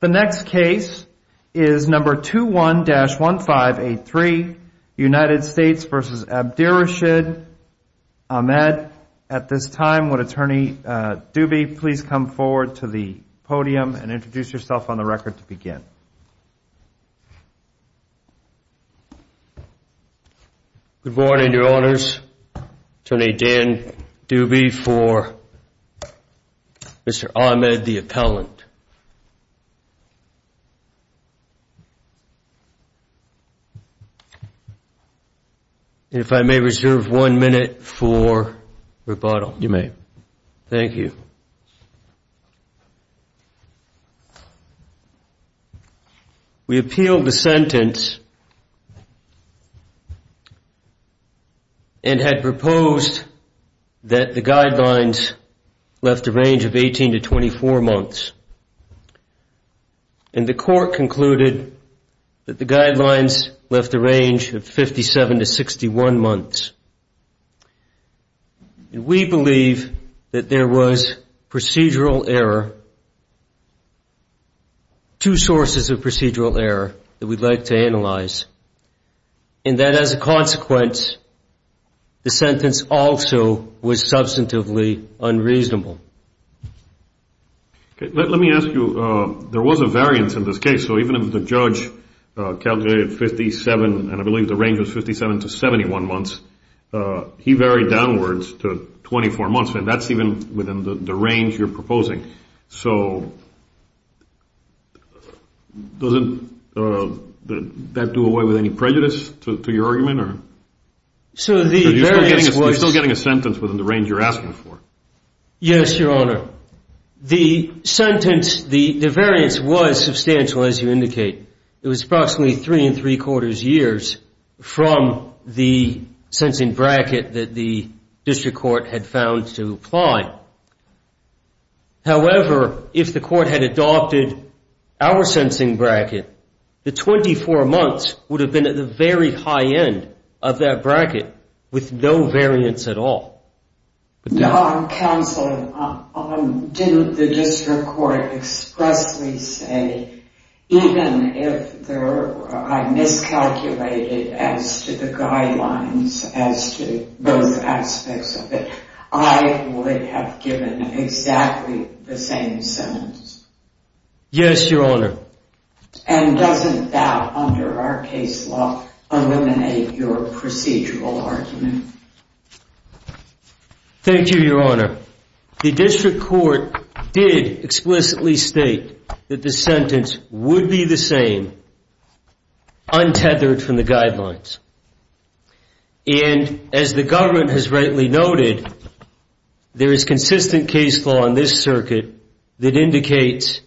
The next case is number 21-1583, United States v. Abdirashid Ahmed. At this time, would Attorney Doobie please come forward to the podium and introduce yourself Good morning, Your Honors. Attorney Dan Doobie for Mr. Ahmed, the appellant. If I may reserve one minute for rebuttal. You may. Thank you. We appealed the sentence and had proposed that the guidelines left a range of 18 to 24 months, and the court concluded that the guidelines left a range of 57 to 61 months. And we believe that there was procedural error, two sources of procedural error, that we'd like to analyze, and that as a consequence, the sentence also was substantively unreasonable. Let me ask you, there was a variance in this case, so even if the judge calculated 57, and I believe the range was 57 to 71 months, he varied downwards to 24 months, and that's even within the range you're proposing. So doesn't that do away with any prejudice to your argument? So you're still getting a sentence within the range you're asking for? Yes, Your Honor. The sentence, the variance was substantial, as you indicate. It was approximately 3 and 3 quarters years from the sentencing bracket that the district court had found to apply. However, if the court had adopted our sentencing bracket, the 24 months would have been at the very high end of that bracket with no variance at all. Counsel, didn't the district court expressly say, even if I miscalculated as to the guidelines, as to both aspects of it, I would have given exactly the same sentence? Yes, Your Honor. And doesn't that, under our case law, eliminate your procedural argument? Thank you, Your Honor. The district court did explicitly state that the sentence would be the same, untethered from the guidelines. And as the government has rightly noted, there is consistent case law in this circuit that indicates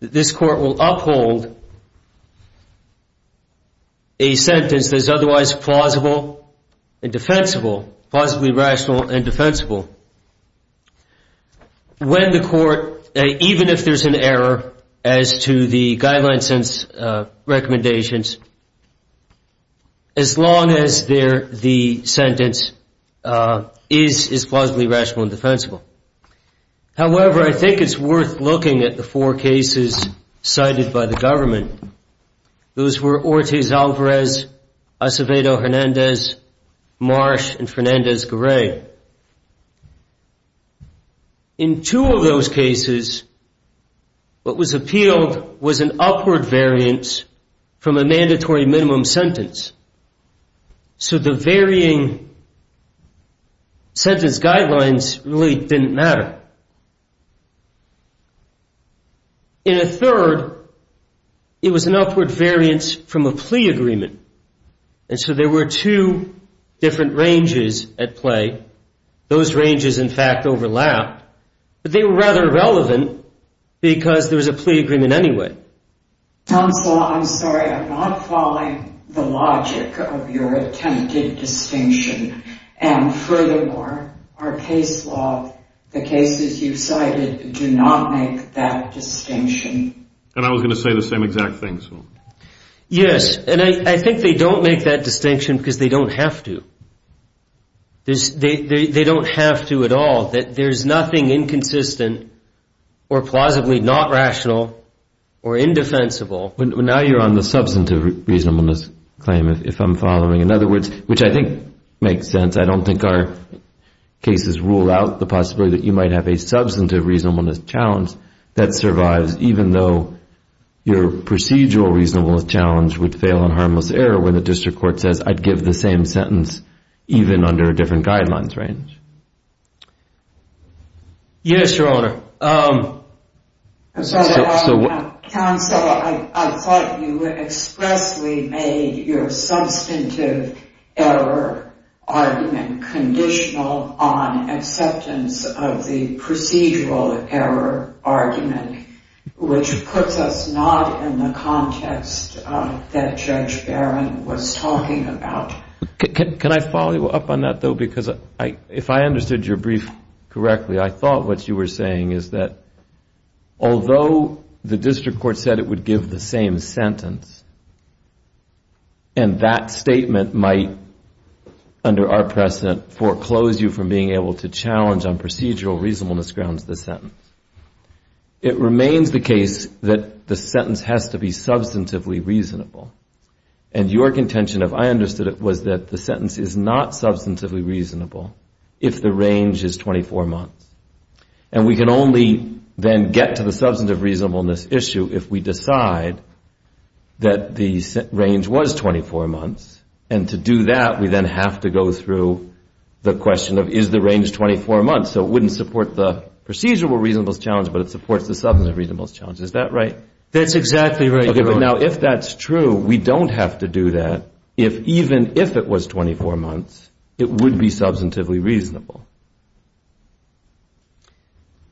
that this court will uphold a sentence that is otherwise plausible and defensible, plausibly rational and defensible, when the court, even if there's an error as to the guidelines and recommendations, as long as the sentence is plausibly rational and defensible. However, I think it's worth looking at the four cases cited by the government. Those were Ortiz-Alvarez, Acevedo-Hernandez, Marsh, and Fernandez-Garay. In two of those cases, what was appealed was an upward variance from a mandatory minimum sentence. So the varying sentence guidelines really didn't matter. In a third, it was an upward variance from a plea agreement. And so there were two different ranges at play. Those ranges, in fact, overlapped. But they were rather relevant, because there was a plea agreement anyway. Counsel, I'm sorry. I'm not following the logic of your attempted distinction. And furthermore, our case law, the cases you cited, do not make that distinction. And I was going to say the same exact thing. Yes. And I think they don't make that distinction, because they don't have to. They don't have to at all. There's nothing inconsistent or plausibly not rational or indefensible. But now you're on the substantive reasonableness claim, if I'm following. In other words, which I think makes sense. I don't think our cases rule out the possibility that you might have a substantive reasonableness challenge that survives, even though your procedural reasonableness challenge would fail on harmless error when the district court says, I'd give the same sentence even under a different guidelines range. Yes, Your Honor. Counsel, I thought you expressly made your substantive error argument conditional on acceptance of the procedural error argument, which puts us not in the context that Judge Barron was talking about. Can I follow you up on that, though? Because if I understood your brief correctly, I thought what you were saying is that although the district court said it would give the same sentence, and that statement might, under our precedent, foreclose you from being able to challenge on procedural reasonableness grounds the sentence, it remains the case that the sentence has to be substantively reasonable. And your contention, if I understood it, was that the sentence is not substantively reasonable if the range is 24 months. And we can only then get to the substantive reasonableness issue if we decide that the range was 24 months. And to do that, we then have to go through the question of, is the range 24 months? So it wouldn't support the procedural reasonableness challenge, but it supports the substantive reasonableness challenge. Is that right? That's exactly right, Your Honor. Okay, but now if that's true, we don't have to do that if even if it was 24 months, it would be substantively reasonable.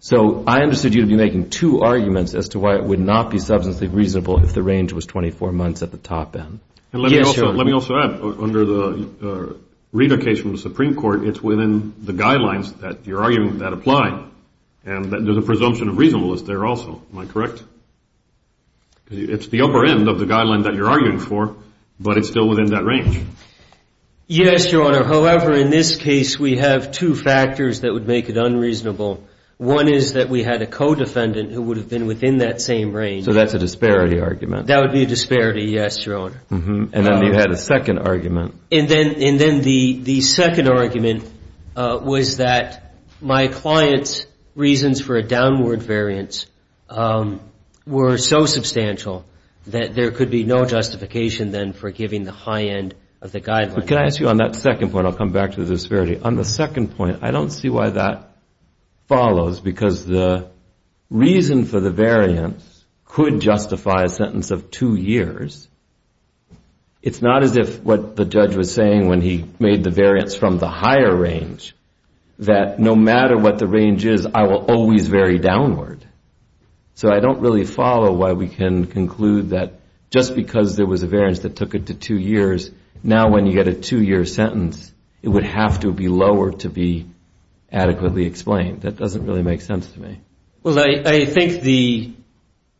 So I understood you to be making two arguments as to why it would not be substantively reasonable if the range was 24 months at the top end. Yes, Your Honor. And let me also add, under the reader case from the Supreme Court, it's within the guidelines that you're arguing that apply. And there's a presumption of reasonableness there also. Am I correct? It's the upper end of the guideline that you're arguing for, but it's still within that range. Yes, Your Honor. However, in this case, we have two factors that would make it unreasonable. One is that we had a co-defendant who would have been within that same range. So that's a disparity argument. That would be a disparity, yes, Your Honor. And then you had a second argument. And then the second argument was that my client's reasons for a downward variance were so substantial that there could be no justification then for giving the high end of the guideline. But can I ask you on that second point, I'll come back to the disparity. On the second point, I don't see why that follows, because the reason for the variance could justify a sentence of two years. It's not as if what the judge was saying when he made the variance from the higher range, that no matter what the range is, I will always vary downward. So I don't really follow why we can conclude that just because there was a variance that took it to two years, now when you get a two-year sentence, it would have to be lower to be adequately explained. That doesn't really make sense to me. Well, I think the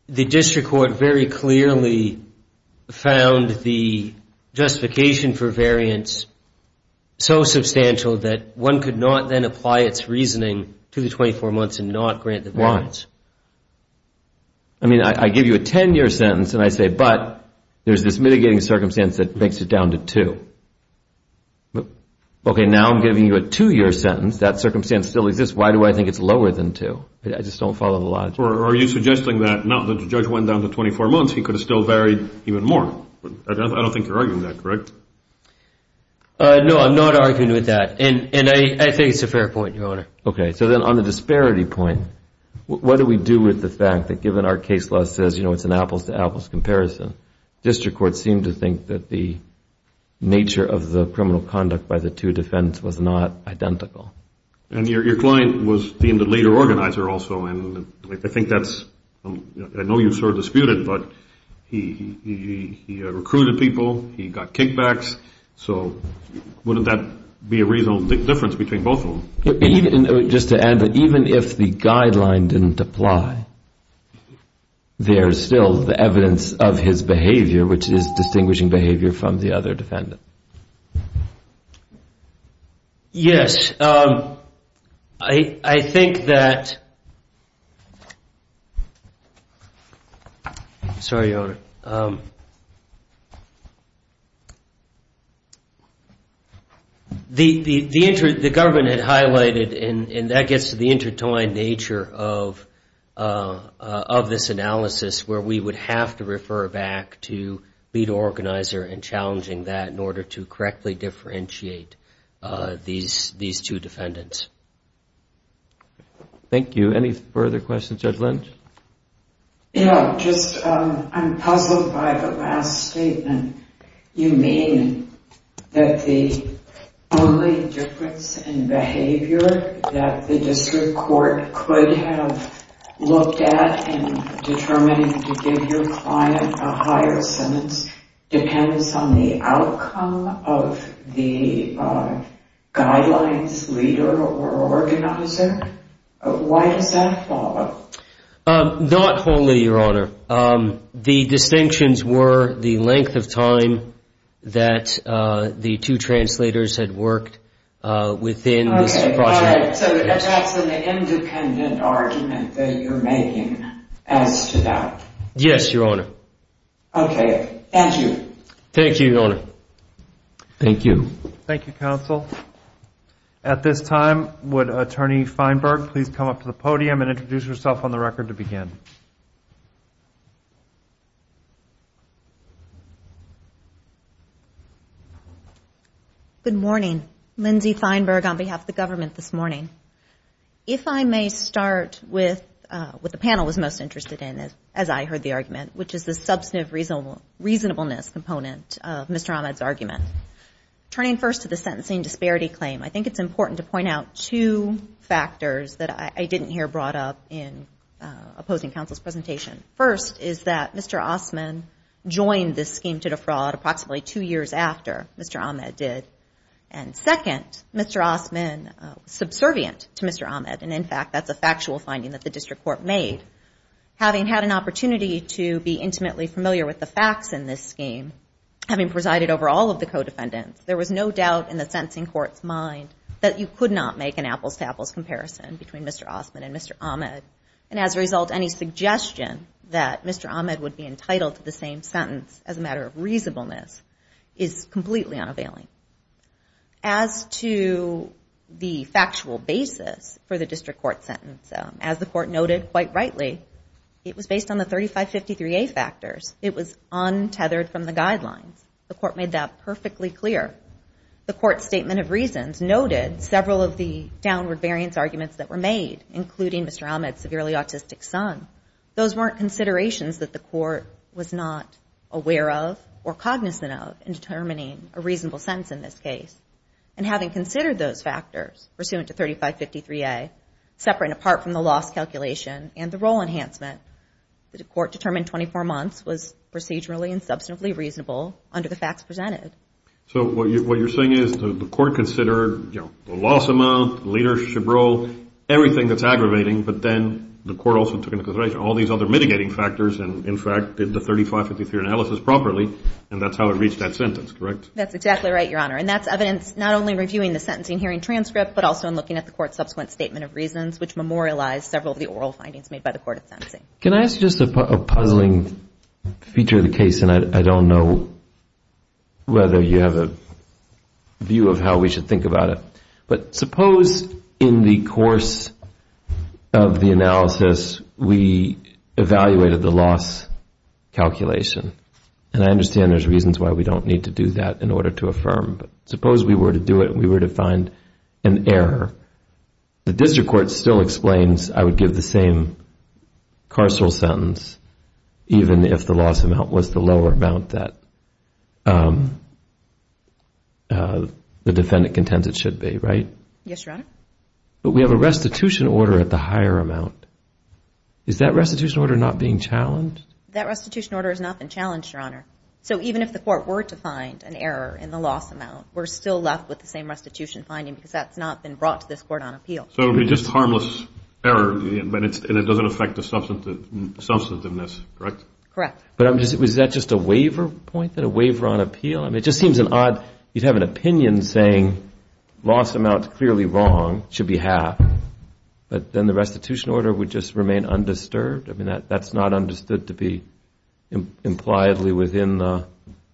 district court very clearly found the justification for variance so substantial that one could not then apply its reasoning to the 24 months and not grant the variance. Why? I mean, I give you a 10-year sentence and I say, but there's this mitigating circumstance that makes it down to two. Okay, now I'm giving you a two-year sentence. That circumstance still exists. Why do I think it's lower than two? I just don't follow the logic. Are you suggesting that now that the judge went down to 24 months, he could have still varied even more? I don't think you're arguing that, correct? No, I'm not arguing with that, and I think it's a fair point, Your Honor. Okay, so then on the disparity point, what do we do with the fact that given our case law says it's an apples-to-apples comparison, district courts seem to think that the nature of the criminal conduct by the two defendants was not identical. And your client was deemed the leader organizer also, and I think that's – I know you've sort of disputed, but he recruited people, he got kickbacks, so wouldn't that be a reasonable difference between both of them? Just to add, even if the guideline didn't apply, there's still the evidence of his behavior, which is distinguishing behavior from the other defendant. Yes. I think that – sorry, Your Honor. The government had highlighted, and that gets to the intertwined nature of this analysis, where we would have to refer back to leader organizer and challenging that in order to correctly differentiate these two defendants. Thank you. Any further questions? Judge Lynch? Yeah, just I'm puzzled by the last statement. You mean that the only difference in behavior that the district court could have looked at in determining to give your client a higher sentence depends on the outcome of the guidelines leader or organizer? Why does that follow? Not wholly, Your Honor. The distinctions were the length of time that the two translators had worked within this process. So that's an independent argument that you're making as to that? Yes, Your Honor. Okay, thank you. Thank you, Your Honor. Thank you. Thank you, counsel. At this time, would Attorney Feinberg please come up to the podium and introduce herself on the record to begin? Thank you. Good morning. Lindsay Feinberg on behalf of the government this morning. If I may start with what the panel was most interested in, as I heard the argument, which is the substantive reasonableness component of Mr. Ahmed's argument. Turning first to the sentencing disparity claim, I think it's important to point out two factors that I didn't hear brought up in opposing counsel's presentation. First is that Mr. Osman joined this scheme to defraud approximately two years after Mr. Ahmed did. And second, Mr. Osman was subservient to Mr. Ahmed, and in fact that's a factual finding that the district court made. Having had an opportunity to be intimately familiar with the facts in this scheme, having presided over all of the co-defendants, there was no doubt in the sentencing court's mind that you could not make an apples-to-apples comparison between Mr. Osman and Mr. Ahmed. And as a result, any suggestion that Mr. Ahmed would be entitled to the same sentence as a matter of reasonableness is completely unavailing. As to the factual basis for the district court sentence, as the court noted quite rightly, it was based on the 3553A factors. It was untethered from the guidelines. The court made that perfectly clear. The court's statement of reasons noted several of the downward variance arguments that were made, including Mr. Ahmed's severely autistic son. Those weren't considerations that the court was not aware of or cognizant of in determining a reasonable sentence in this case. And having considered those factors, pursuant to 3553A, separate and apart from the loss calculation and the role enhancement, the court determined 24 months was procedurally and substantively reasonable under the facts presented. So what you're saying is the court considered the loss amount, leadership role, everything that's aggravating, but then the court also took into consideration all these other mitigating factors and, in fact, did the 3553 analysis properly, and that's how it reached that sentence, correct? That's exactly right, Your Honor. And that's evidence not only reviewing the sentencing hearing transcript, but also in looking at the court's subsequent statement of reasons, which memorialized several of the oral findings made by the court at sentencing. Can I ask just a puzzling feature of the case, and I don't know whether you have a view of how we should think about it, but suppose in the course of the analysis we evaluated the loss calculation, and I understand there's reasons why we don't need to do that in order to affirm, but suppose we were to do it and we were to find an error. The district court still explains I would give the same carceral sentence even if the loss amount was the lower amount that the defendant contends it should be, right? Yes, Your Honor. But we have a restitution order at the higher amount. Is that restitution order not being challenged? That restitution order has not been challenged, Your Honor. So even if the court were to find an error in the loss amount, we're still left with the same restitution finding because that's not been brought to this court on appeal. So it would be just harmless error, and it doesn't affect the substantiveness, correct? Correct. But was that just a waiver point, a waiver on appeal? I mean, it just seems odd. You'd have an opinion saying loss amount clearly wrong, should be half, but then the restitution order would just remain undisturbed. I mean, that's not understood to be impliedly within the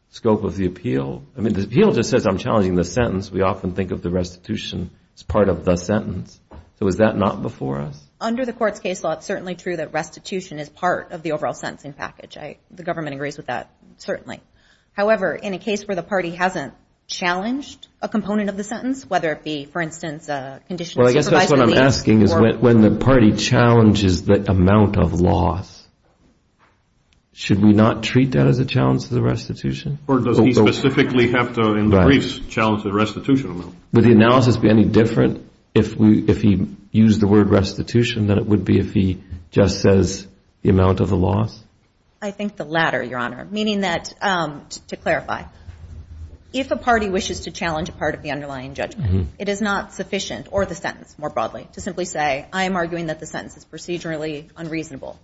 scope of the appeal. I mean, the appeal just says I'm challenging the sentence. We often think of the restitution as part of the sentence. So is that not before us? Under the court's case law, it's certainly true that restitution is part of the overall sentencing package. The government agrees with that, certainly. However, in a case where the party hasn't challenged a component of the sentence, whether it be, for instance, a condition of supervisory lease or – Well, I guess that's what I'm asking is when the party challenges the amount of loss, should we not treat that as a challenge to the restitution? Or does he specifically have to, in the briefs, challenge the restitution amount? Would the analysis be any different if he used the word restitution than it would be if he just says the amount of the loss? I think the latter, Your Honor, meaning that, to clarify, if a party wishes to challenge a part of the underlying judgment, it is not sufficient, or the sentence more broadly, to simply say, I am arguing that the sentence is procedurally unreasonable.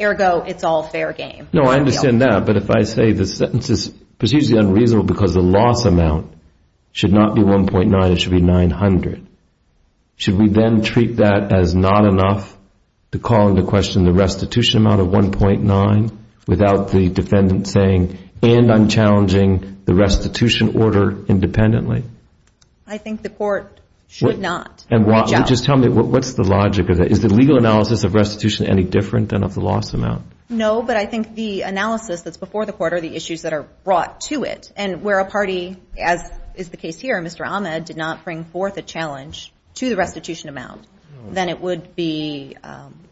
Ergo, it's all fair game. No, I understand that. But if I say the sentence is procedurally unreasonable because the loss amount should not be 1.9, it should be 900, should we then treat that as not enough to call into question the restitution amount of 1.9 without the defendant saying, and I'm challenging the restitution order independently? I think the court should not reach out. Just tell me, what's the logic of that? Is the legal analysis of restitution any different than of the loss amount? No, but I think the analysis that's before the court are the issues that are brought to it, and where a party, as is the case here, Mr. Ahmed, did not bring forth a challenge to the restitution amount, then it would be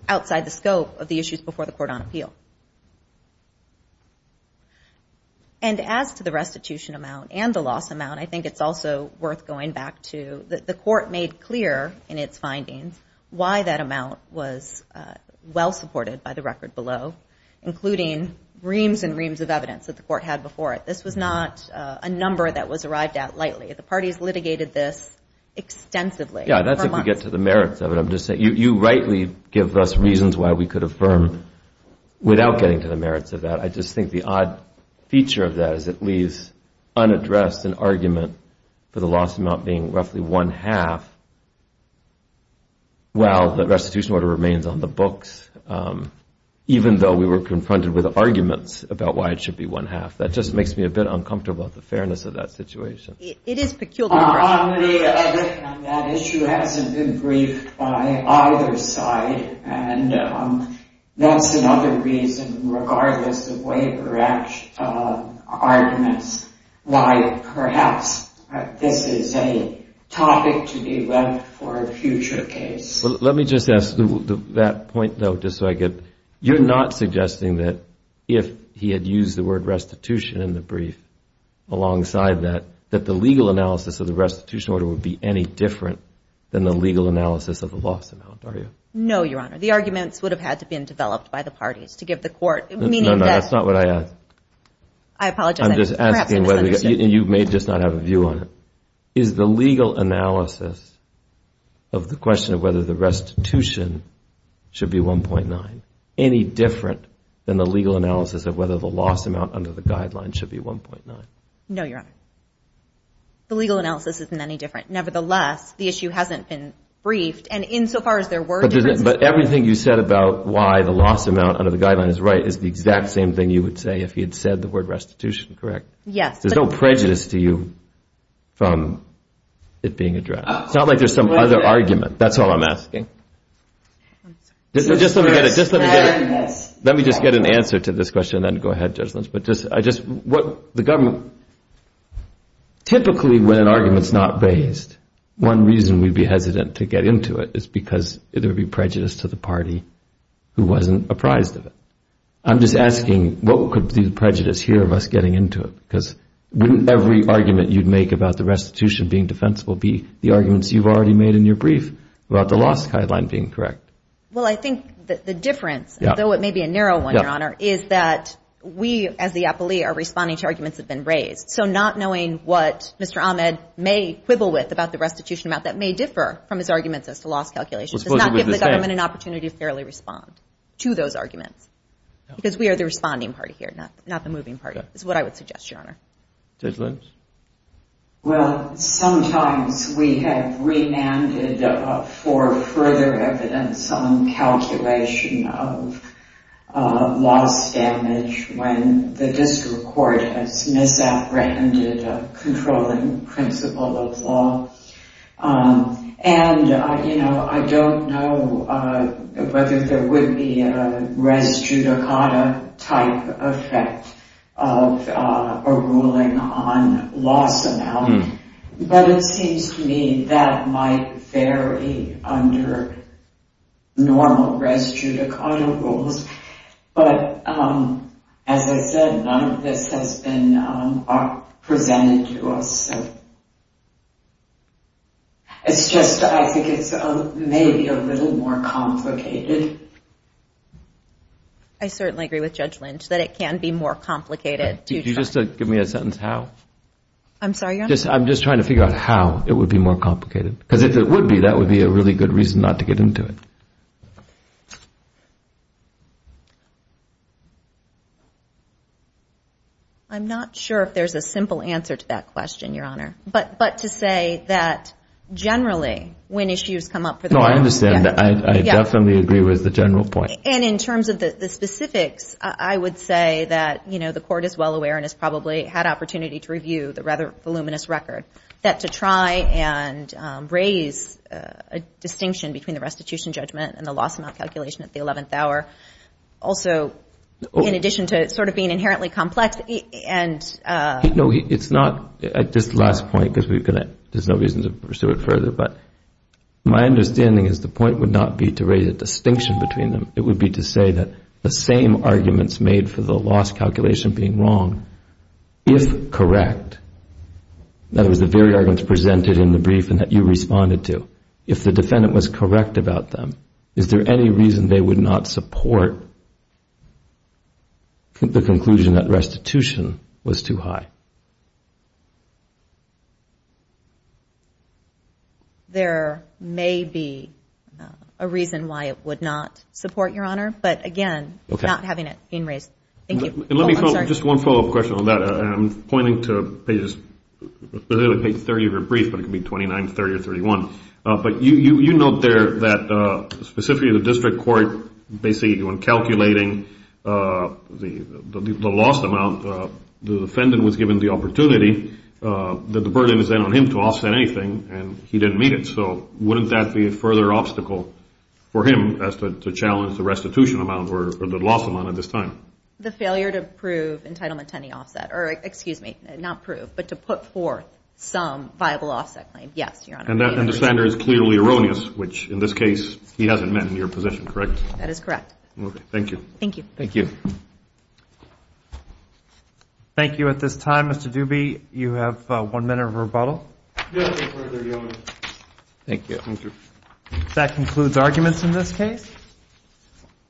outside the scope of the issues before the court on appeal. And as to the restitution amount and the loss amount, I think it's also worth going back to that the court made clear in its findings why that amount was well supported by the record below, including reams and reams of evidence that the court had before it. This was not a number that was arrived at lightly. The parties litigated this extensively. Yeah, that's if we get to the merits of it. You rightly give us reasons why we could affirm without getting to the merits of that. I just think the odd feature of that is it leaves unaddressed an argument for the loss amount being roughly one half, while the restitution order remains on the books, even though we were confronted with arguments about why it should be one half. That just makes me a bit uncomfortable about the fairness of that situation. It is peculiar. On the other hand, that issue hasn't been briefed by either side, and that's another reason, regardless of waiver arguments, why perhaps this is a topic to be left for a future case. Let me just ask that point, though, just so I get it. You're not suggesting that if he had used the word restitution in the brief alongside that, that the legal analysis of the restitution order would be any different than the legal analysis of the loss amount, are you? No, Your Honor. The arguments would have had to have been developed by the parties to give the court, meaning that— No, no, that's not what I asked. I apologize. I'm just asking whether—and you may just not have a view on it. Is the legal analysis of the question of whether the restitution should be 1.9 any different than the legal analysis of whether the loss amount under the guideline should be 1.9? No, Your Honor. The legal analysis isn't any different. Nevertheless, the issue hasn't been briefed, and insofar as there were differences— But everything you said about why the loss amount under the guideline is right is the exact same thing you would say if he had said the word restitution correct. Yes. There's no prejudice to you from it being addressed. It's not like there's some other argument. That's all I'm asking. Just let me get it. Let me just get an answer to this question and then go ahead, Judge Lynch. But I just—what the government—typically when an argument's not raised, one reason we'd be hesitant to get into it is because there would be prejudice to the party who wasn't apprised of it. I'm just asking, what could be the prejudice here of us getting into it? Because wouldn't every argument you'd make about the restitution being defensible be the arguments you've already made in your brief about the loss guideline being correct? Well, I think the difference, though it may be a narrow one, Your Honor, is that we as the appellee are responding to arguments that have been raised. So not knowing what Mr. Ahmed may quibble with about the restitution amount that may differ from his arguments as to loss calculation does not give the government an opportunity to fairly respond to those arguments because we are the responding party here, not the moving party, is what I would suggest, Your Honor. Judge Lynch? Well, sometimes we have remanded for further evidence on calculation of loss damage when the district court has misapprehended a controlling principle of law. And I don't know whether there would be a res judicata type effect of a ruling on loss amount, but it seems to me that might vary under normal res judicata rules. But as I said, none of this has been presented to us. It's just I think it's maybe a little more complicated. I certainly agree with Judge Lynch that it can be more complicated. Could you just give me a sentence how? I'm sorry, Your Honor? I'm just trying to figure out how it would be more complicated. Because if it would be, that would be a really good reason not to get into it. I'm not sure if there's a simple answer to that question, Your Honor. But to say that generally when issues come up for the court. No, I understand that. I definitely agree with the general point. And in terms of the specifics, I would say that the court is well aware and has probably had opportunity to review the rather voluminous record that to try and raise a distinction between the restitution judgment and the loss amount calculation at the 11th hour. Also, in addition to sort of being inherently complex and. No, it's not at this last point because there's no reason to pursue it further. But my understanding is the point would not be to raise a distinction between them. It would be to say that the same arguments made for the loss calculation being wrong, if correct. That was the very arguments presented in the brief and that you responded to. If the defendant was correct about them, is there any reason they would not support the conclusion that restitution was too high? There may be a reason why it would not support, Your Honor. But again, not having it being raised. Just one follow-up question on that. I'm pointing to pages 30 of your brief, but it can be 29, 30, or 31. But you note there that specifically the district court basically when calculating the lost amount, the defendant was given the opportunity that the burden is then on him to offset anything, and he didn't meet it. So wouldn't that be a further obstacle for him as to challenge the restitution amount or the lost amount at this time? The failure to prove entitlement to any offset, or excuse me, not prove, but to put forth some viable offset claim. Yes, Your Honor. And the standard is clearly erroneous, which in this case he hasn't met in your position, correct? That is correct. Okay. Thank you. Thank you. Thank you at this time. Mr. Duby, you have one minute of rebuttal. Yes, Your Honor. Thank you. Thank you. That concludes arguments in this case.